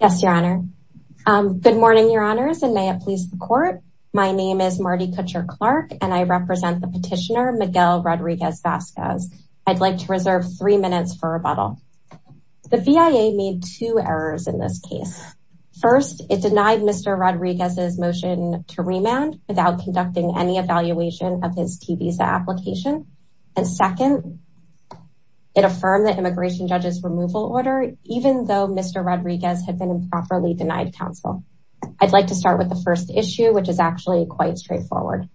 Yes, Your Honor. Good morning, Your Honors, and may it please the court. My name is Marty Kutcher-Clark, and I represent the petitioner Miguel Rodriguez-Vazquez. I'd like to reserve three minutes for rebuttal. The VIA made two errors in this case. First, it denied Mr. Rodriguez's motion to remand without conducting any evaluation of his T-visa application. And second, it affirmed the immigration judge's had been improperly denied counsel. I'd like to start with the first issue, which is actually quite straightforward.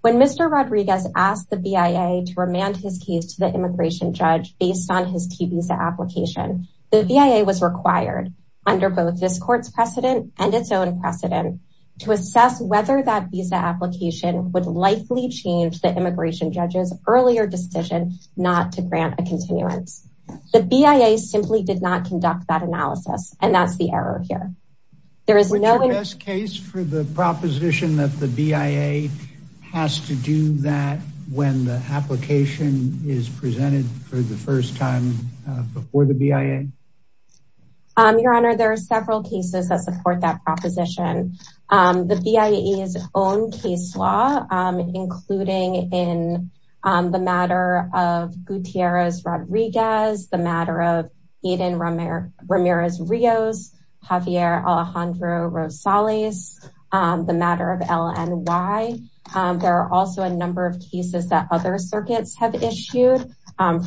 When Mr. Rodriguez asked the VIA to remand his case to the immigration judge based on his T-visa application, the VIA was required, under both this court's precedent and its own precedent, to assess whether that visa application would likely change the immigration judge's earlier decision not to grant a continuance. The VIA simply did not conduct that assessment, and that's the error here. Which is the best case for the proposition that the VIA has to do that when the application is presented for the first time before the VIA? Your Honor, there are several cases that support that proposition. The VIA's own case law, including in the matter of Ramirez-Rios, Javier Alejandro Rosales, the matter of LNY. There are also a number of cases that other circuits have issued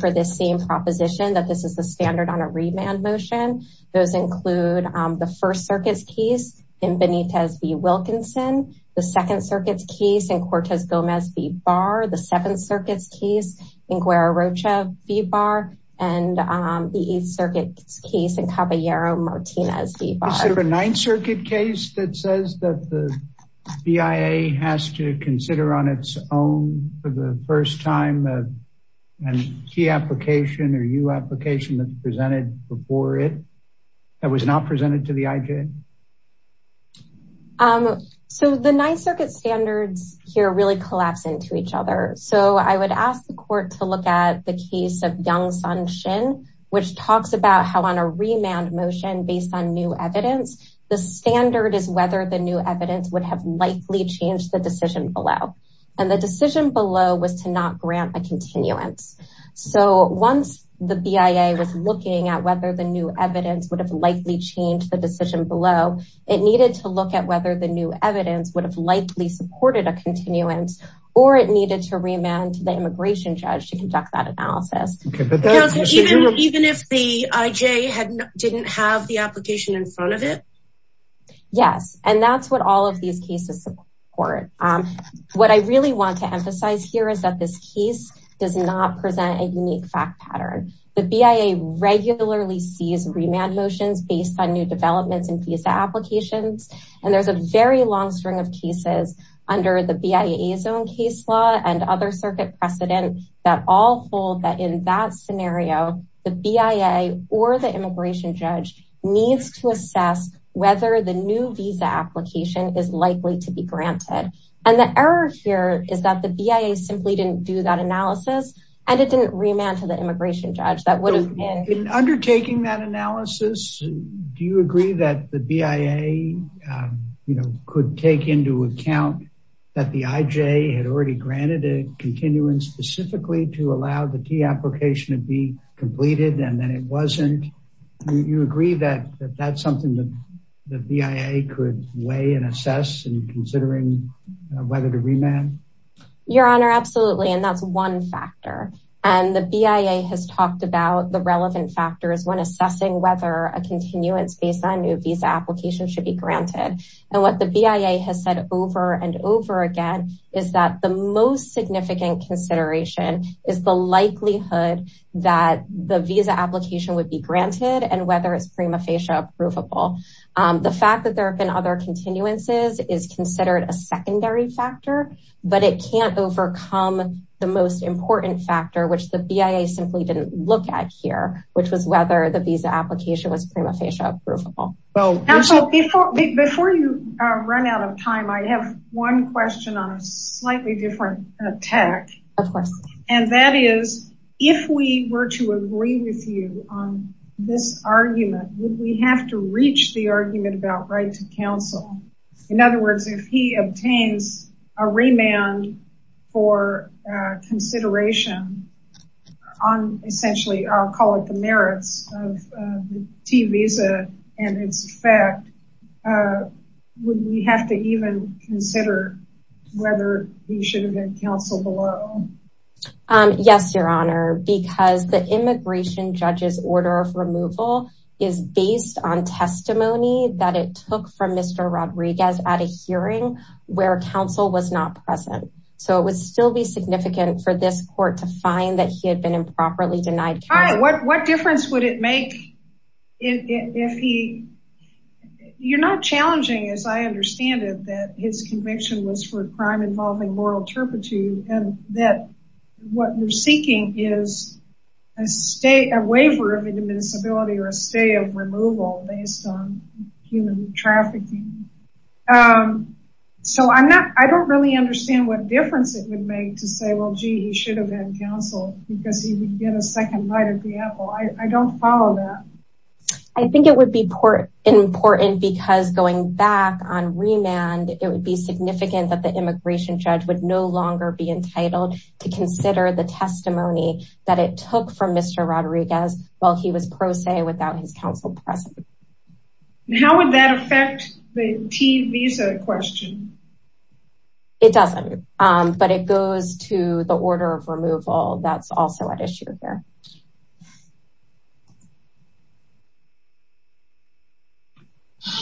for this same proposition that this is the standard on a remand motion. Those include the First Circuit's case in Benitez v. Wilkinson, the Second Circuit's case in Cortez Gomez v. Barr, the Seventh Circuit's case in Guerra Rocha v. Barr, and the Ninth Circuit's case in Caballero Martinez v. Barr. Is there a Ninth Circuit case that says that the VIA has to consider on its own for the first time a key application or U application that's presented before it that was not presented to the IJ? So the Ninth Circuit standards here really collapse into each other. So I would ask the court to look at the case of Young who talks about how on a remand motion based on new evidence, the standard is whether the new evidence would have likely changed the decision below. And the decision below was to not grant a continuance. So once the VIA was looking at whether the new evidence would have likely changed the decision below, it needed to look at whether the new evidence would have likely supported a continuance, or it needed to remand the immigration judge to conduct that analysis. Even if the IJ didn't have the application in front of it? Yes, and that's what all of these cases support. What I really want to emphasize here is that this case does not present a unique fact pattern. The VIA regularly sees remand motions based on new developments and visa applications. And there's a very long string of cases under the VIA's own case law and other circuit precedent that all hold that in that scenario, the VIA or the immigration judge needs to assess whether the new visa application is likely to be granted. And the error here is that the VIA simply didn't do that analysis. And it didn't remand to the immigration judge that would have been undertaking that analysis. Do you agree that the VIA, you know, could take into account that the IJ had already granted a continuance specifically to allow the key application to be completed, and then it wasn't? Do you agree that that's something that the VIA could weigh and assess in considering whether to remand? Your Honor, absolutely. And that's one factor. And the VIA has talked about the relevant factors when assessing whether a continuance based on new visa applications should be granted. And what the VIA has said over and over again, is that the most significant consideration is the likelihood that the visa application would be granted and whether it's prima facie approvable. The fact that there have been other continuances is considered a secondary factor, but it can't overcome the most important factor, which the VIA simply didn't look at here, which was whether the visa application was prima facie approvable. Well, before you run out of time, I have one question on a tack. And that is, if we were to agree with you on this argument, would we have to reach the argument about right to counsel? In other words, if he obtains a remand for consideration on essentially, I'll call it the merits of the T visa and its effect, would we have to even consider whether we should have been counsel below? Yes, Your Honor, because the immigration judge's order of removal is based on testimony that it took from Mr. Rodriguez at a hearing where counsel was not present. So it would still be significant for this court to find that he had been improperly denied. What difference would it make if he you're not challenging as I understand it, that his conviction was for a crime involving moral turpitude and that what you're seeking is a state a waiver of indemnizability or a stay of removal based on human trafficking. So I'm not I don't really understand what difference it would make to say well, gee, he should have been counsel because he would get a second light at the apple. I don't follow that. I think it would be important because going back on remand, it would be significant that the immigration judge would no longer be entitled to consider the testimony that it took from Mr. Rodriguez while he was pro se without his counsel present. How would that affect the T visa question? It doesn't. But it goes to the order of removal. That's also an issue here.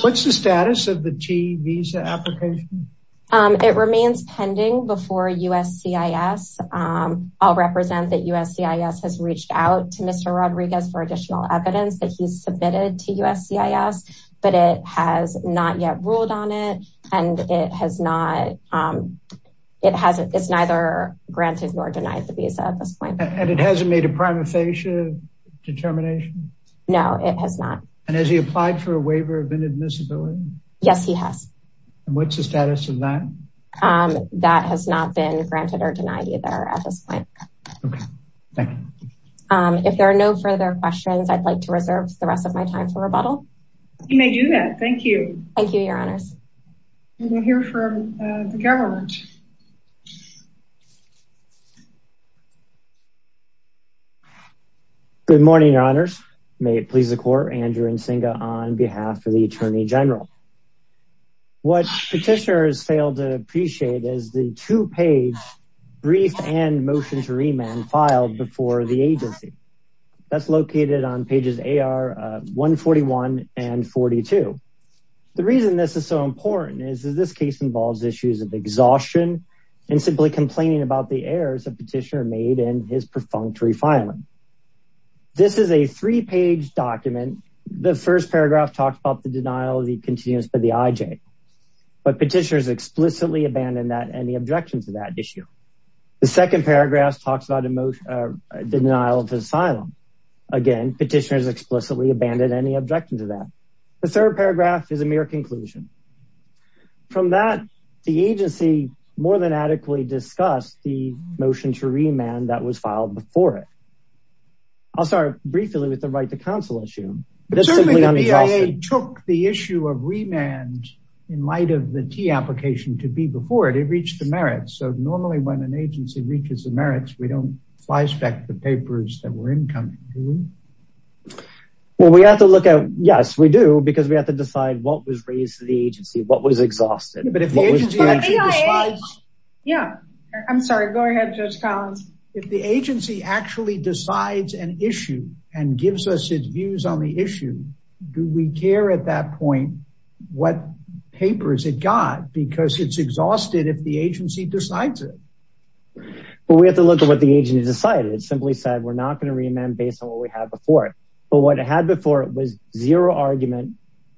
What's the status of the T visa application? It remains pending before USC is I'll represent that USC is has reached out to Mr. Rodriguez for additional evidence that he's submitted to USC is but it has not yet ruled on it. And it has not. It hasn't it's neither granted nor denied the visa at this point. And it hasn't made a primary statement yet. Has he applied for a waiver of inadmissibility? Yes, he has. And what's the status of that? That has not been granted or denied either at this point. Thank you. If there are no further questions, I'd like to reserve the rest of my time for rebuttal. You may do that. Thank you. Thank you, Your Honors. We'll hear from the government. Good morning, Your Honors. May it please the court, Andrew Nsingha on behalf of the Attorney General. What petitioners failed to appreciate is the two page brief and motion to remand filed before the agency that's located on pages AR 141 and 42. The reason this is so important is this case involves issues of exhaustion and fatigue. And simply complaining about the errors a petitioner made in his perfunctory filing. This is a three page document. The first paragraph talks about the denial of the continuous by the IJ, but petitioners explicitly abandoned that any objection to that issue. The second paragraph talks about the denial of his asylum. Again, petitioners explicitly abandoned any objection to that. The third paragraph is a mere conclusion. From that, the agency more than adequately discussed the motion to remand that was filed before it. I'll start briefly with the right to counsel issue. But certainly the BIA took the issue of remand in light of the T application to be before it, it reached the merits. So normally when an agency reaches the merits, we don't flyspeck the papers that were incoming, do we? Well, we have to look at, yes, we do, because we have to decide what was raised to the agency, what was exhausted. But if the agency actually decides. Yeah, I'm sorry. Go ahead, Judge Collins. If the agency actually decides an issue and gives us its views on the issue, do we care at that point what papers it got? Because it's exhausted if the agency decides it. Well, we have to look at what the agency decided, simply said we're not going to remand based on what we had before. But what it had before it was zero argument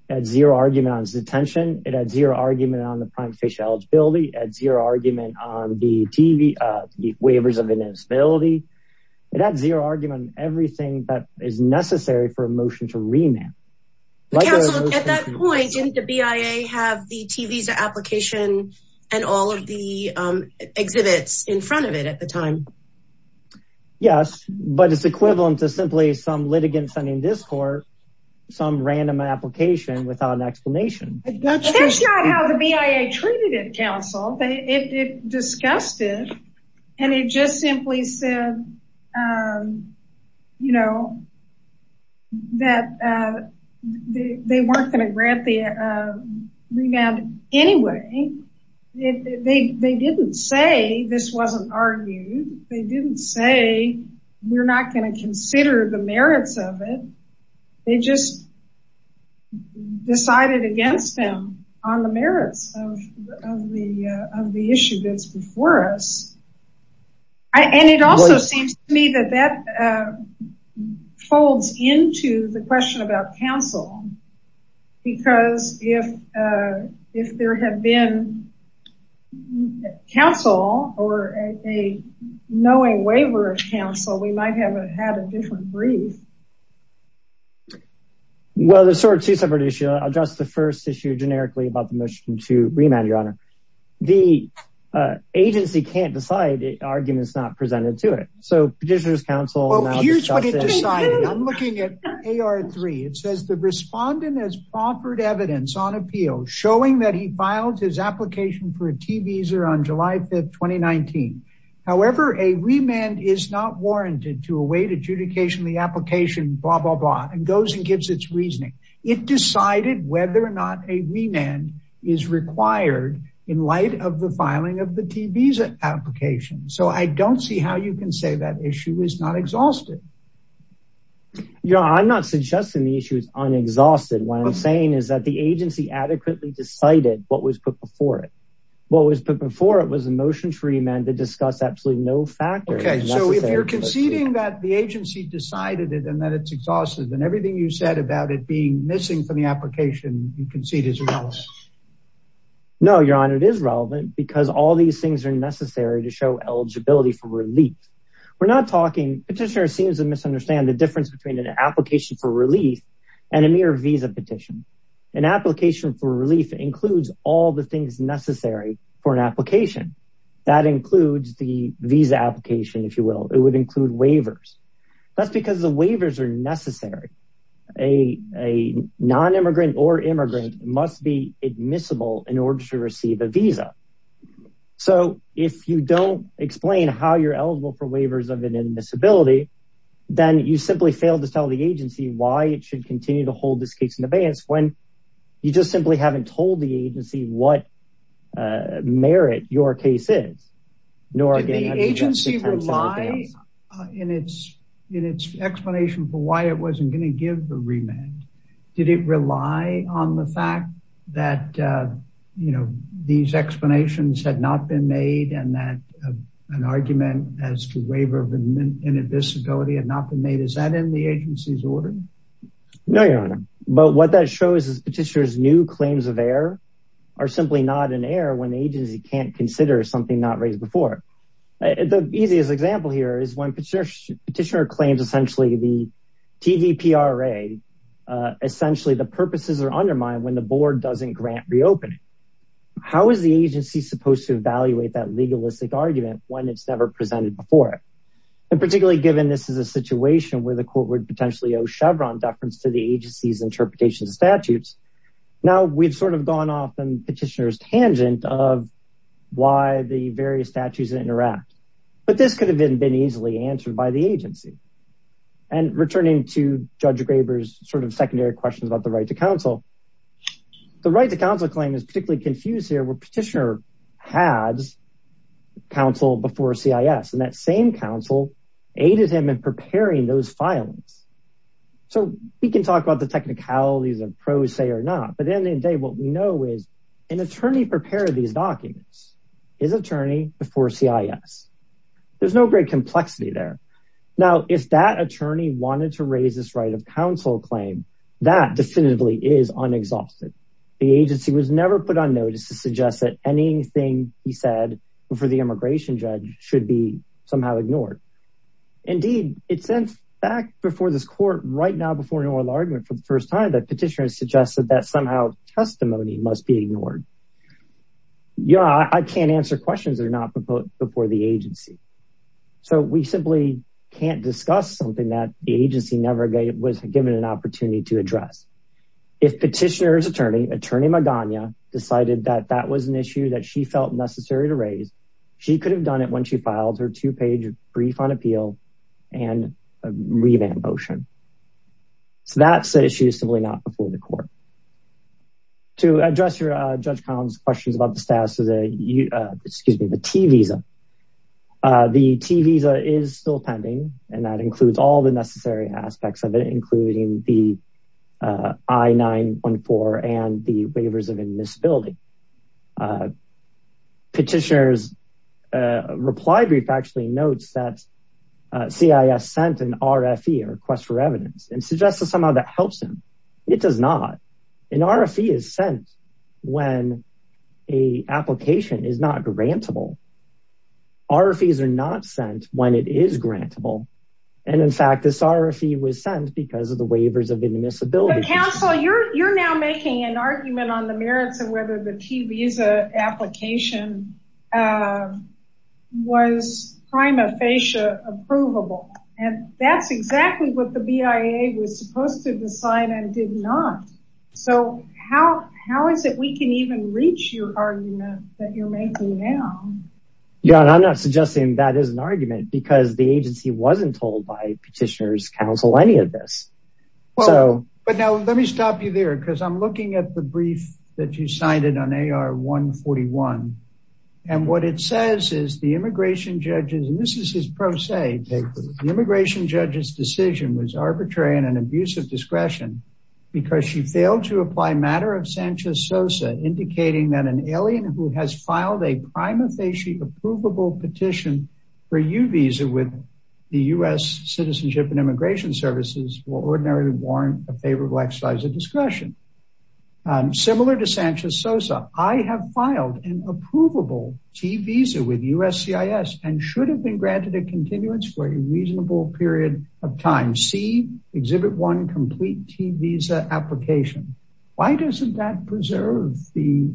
at zero argument on detention, it had zero argument on the prime facial eligibility at zero argument on the TV, the waivers of invincibility, it had zero argument, everything that is necessary for a motion to remand. At that point, didn't the BIA have the TV's application and all of the exhibits in front of it at the time? Yes, but it's equivalent to simply some litigant sending this for some random application without an explanation. That's not how the BIA treated it, counsel. They discussed it and it just simply said, you know, that they weren't going to grant the remand anyway. They didn't say this wasn't argued. They didn't say we're not going to consider the merits of it. They just decided against them on the merits of the issue that's before us. And it also seems to me that that folds into the question about counsel, because if there had been counsel or a knowing waiver of counsel, we might have had a different brief. Well, the sort of two separate issue, I'll address the first issue generically about the motion to remand, your honor. The agency can't decide arguments not presented to it. So petitioners counsel. Here's what it decided. I'm looking at AR3. It says the respondent has offered evidence on appeal showing that he filed his application for a T visa on July 5th, 2019. However, a remand is not warranted to await adjudication, the application, blah, blah, blah, and goes and gives its reasoning. It decided whether or not a remand is required in light of the filing of the T visa application. So I don't see how you can say that issue is not exhausted. Your honor, I'm not suggesting the issue is unexhausted. What I'm saying is that the agency adequately decided what was put before it. What was put before it was a motion to remand to discuss absolutely no factor. Okay. So if you're conceding that the agency decided it and that it's exhausted and everything you said about it being missing from the application, you concede is relevant. No, your honor, it is relevant because all these things are necessary to show eligibility for relief. We're not talking petitioner seems to misunderstand the difference between an application for relief and a mere visa petition. An application for relief includes all the things necessary for an application that includes the visa application. If you will, it would include waivers. That's because the waivers are necessary. A non-immigrant or immigrant must be admissible in order to receive a visa. So if you don't explain how you're eligible for waivers of an admissibility, then you simply fail to tell the agency why it should continue to hold this case in the vance when you just simply haven't told the agency what merit your case is. Did the agency rely in its explanation for why it wasn't going to give a remand, did it rely on the fact that, you know, these explanations had not been made and that an argument as to waiver of admissibility had not been made, is that in the agency's order? No, your honor. But what that shows is petitioner's new claims of error are simply not in error when the agency can't consider something not raised before. The easiest example here is when petitioner claims essentially the DVPRA, essentially the purposes are undermined when the board doesn't grant reopening. How is the agency supposed to evaluate that legalistic argument when it's never presented before it? And particularly given this is a situation where the court would potentially owe Chevron deference to the agency's interpretation of statutes. Now we've sort of gone off in petitioner's tangent of why the various statutes interact, but this could have been easily answered by the agency. And returning to judge Graber's sort of secondary questions about the right to counsel, the right to counsel claim is particularly confused here where petitioner has counsel before CIS and that same counsel aided him in preparing those filings. So we can talk about the technicalities and pros say or not, but at the end of the day, what we know is an attorney prepared these documents, his attorney before CIS, there's no great complexity there. Now, if that attorney wanted to raise this right of counsel claim, that definitively is unexhausted. The agency was never put on notice to suggest that anything he said before the immigration judge should be somehow ignored. Indeed, it's in fact before this court right now, before an oral argument for the first time that petitioners suggested that somehow testimony must be ignored. Yeah, I can't answer questions that are not before the agency. So we simply can't discuss something that the agency never was given an opportunity to address. If petitioner's attorney, attorney Magana decided that that was an issue that she felt necessary to raise, she could have done it when she filed her two page brief on appeal and a revamp motion. So that's the issue simply not before the court. To address your judge Collins questions about the status of the, excuse me, the T visa. The T visa is still pending and that includes all the necessary aspects of it, including the I-914 and the waivers of indisability. Petitioner's reply brief actually notes that CIS sent an RFE, a request for evidence and suggested somehow that helps him. It does not. An RFE is sent when a application is not grantable. RFEs are not sent when it is grantable. And in fact, this RFE was sent because of the waivers of indisability. Counsel, you're, you're now making an argument on the merits of whether the T visa application was prima facie approvable and that's exactly what the BIA was supposed to decide and did not. So how, how is it we can even reach your argument that you're making now? Yeah. And I'm not suggesting that is an argument because the agency wasn't told by petitioner's counsel, any of this. Well, but now let me stop you there. Cause I'm looking at the brief that you signed it on AR 141. And what it says is the immigration judges, and this is his pro se, the immigration judges decision was arbitrary and an abuse of discretion because she failed to apply matter of Sanchez Sosa indicating that an alien who has filed a prima facie approvable petition for U visa with the U.S. citizenship and immigration services will ordinarily warrant a favorable exercise of discretion. Similar to Sanchez Sosa, I have filed an approvable T visa with USCIS and should have been granted a continuance for a reasonable period of time. See exhibit one complete T visa application. Why doesn't that preserve the,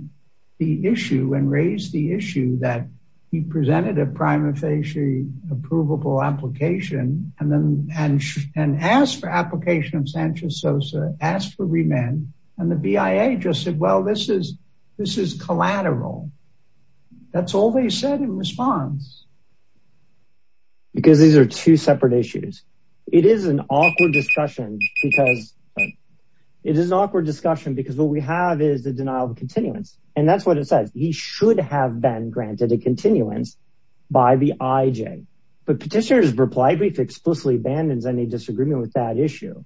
the issue and raise the issue that he presented a prima facie approvable application and then, and, and asked for application of Sanchez Sosa asked for remand and the BIA just said, well, this is, this is collateral, that's all they said in response because these are two separate issues, it is an awkward discussion because it is an awkward discussion because what we have is the denial of continuance and that's what it says. He should have been granted a continuance by the IJ, but petitioners reply brief explicitly abandons any disagreement with that issue.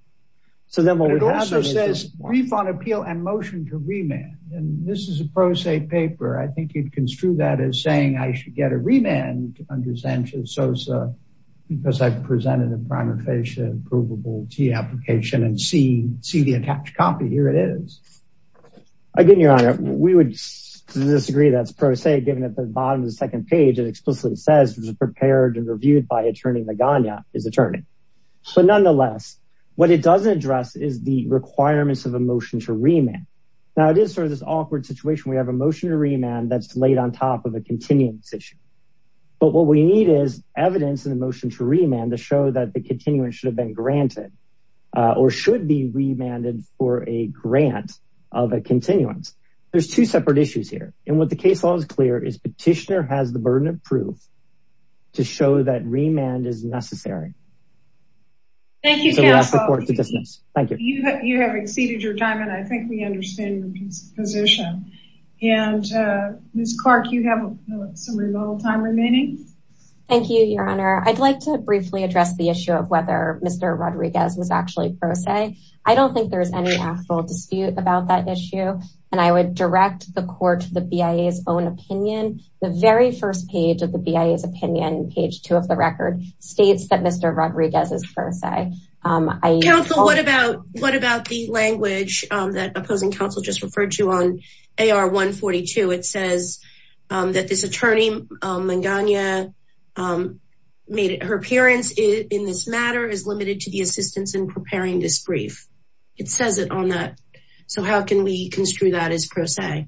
So then what we have is a brief on appeal and motion to remand. And this is a pro se paper. I think you'd construe that as saying I should get a remand under Sanchez Sosa because I presented a prima facie approvable T application and see, see the attached copy here. It is. Again, your honor, we would disagree. That's pro se given at the bottom of the second page, it explicitly says it was prepared and reviewed by attorney Magana, his attorney. But nonetheless, what it doesn't address is the requirements of a motion to remand. Now it is sort of this awkward situation. We have a motion to remand that's laid on top of a continuance issue. But what we need is evidence in the motion to remand to show that the continuance should have been granted or should be remanded for a grant of a continuance. There's two separate issues here. And what the case law is clear is petitioner has the burden of proof to show that remand is necessary. Thank you. Thank you. You have exceeded your time. And I think we understand the position and Ms. Time remaining. Thank you, your honor. I'd like to briefly address the issue of whether Mr. Rodriguez was actually pro se. I don't think there's any actual dispute about that issue. And I would direct the court to the BIA's own opinion. The very first page of the BIA's opinion, page two of the record states that Mr. Rodriguez is pro se. Um, I, counsel, what about, what about the language, um, that opposing counsel just referred to on AR 142? It says, um, that this attorney, um, Magana, um, made it, her appearance in this matter is limited to the assistance in preparing this brief. It says it on that. So how can we construe that as pro se?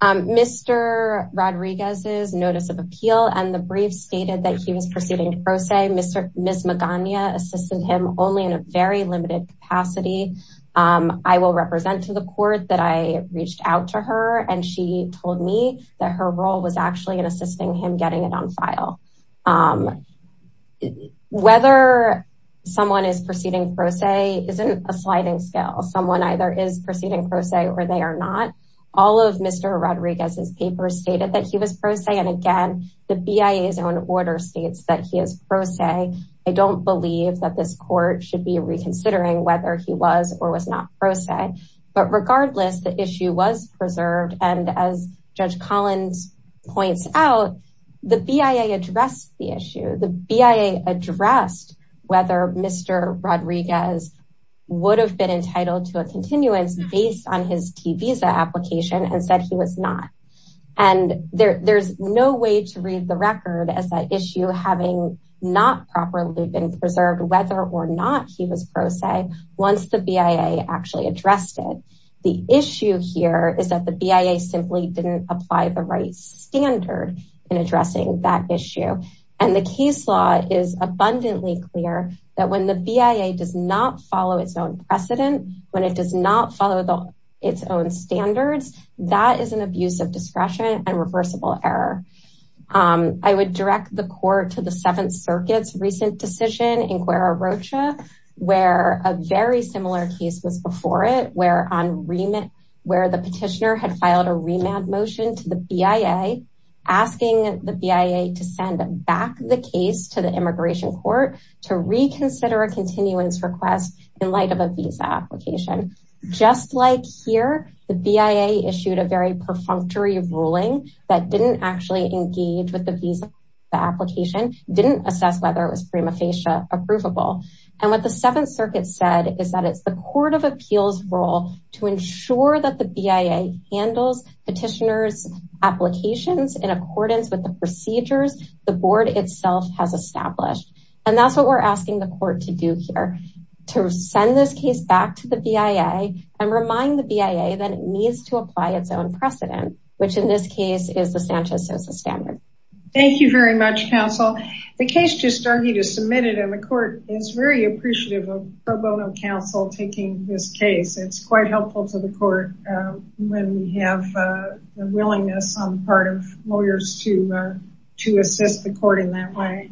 Um, Mr. Rodriguez's notice of appeal and the brief stated that he was proceeding pro se, Mr. Ms. Magana assisted him only in a very limited capacity. Um, I will represent to the court that I reached out to her and she told me that her role was actually in assisting him getting it on file. Um, whether someone is proceeding pro se isn't a sliding scale. Someone either is proceeding pro se or they are not. All of Mr. Rodriguez's papers stated that he was pro se. And again, the BIA's own order states that he is pro se. I don't believe that this court should be reconsidering whether he was or was not pro se. But regardless, the issue was preserved. And as Judge Collins points out, the BIA addressed the issue. The BIA addressed whether Mr. Rodriguez would have been entitled to a continuance based on his T visa application and said he was not. And there there's no way to read the record as that issue having not properly been preserved, whether or not he was pro se once the BIA actually addressed it, the issue here is that the BIA simply didn't apply the right standard in addressing that issue. And the case law is abundantly clear that when the BIA does not follow its own precedent, when it does not follow its own standards, that is an abuse of discretion and reversible error. Um, I would direct the court to the seventh circuit's recent decision in where on remit, where the petitioner had filed a remand motion to the BIA, asking the BIA to send back the case to the immigration court to reconsider a continuance request in light of a visa application, just like here, the BIA issued a very perfunctory ruling that didn't actually engage with the visa. The application didn't assess whether it was prima facie approvable. And what the seventh circuit said is that it's the court of appeals role to ensure that the BIA handles petitioner's applications in accordance with the procedures the board itself has established. And that's what we're asking the court to do here, to send this case back to the BIA and remind the BIA that it needs to apply its own precedent, which in this case is the Sanchez-Sosa standard. Thank you very much, counsel. The case just argued is submitted and the court is very appreciative of pro bono counsel taking this case. It's quite helpful to the court when we have a willingness on the part of lawyers to, to assist the court in that way.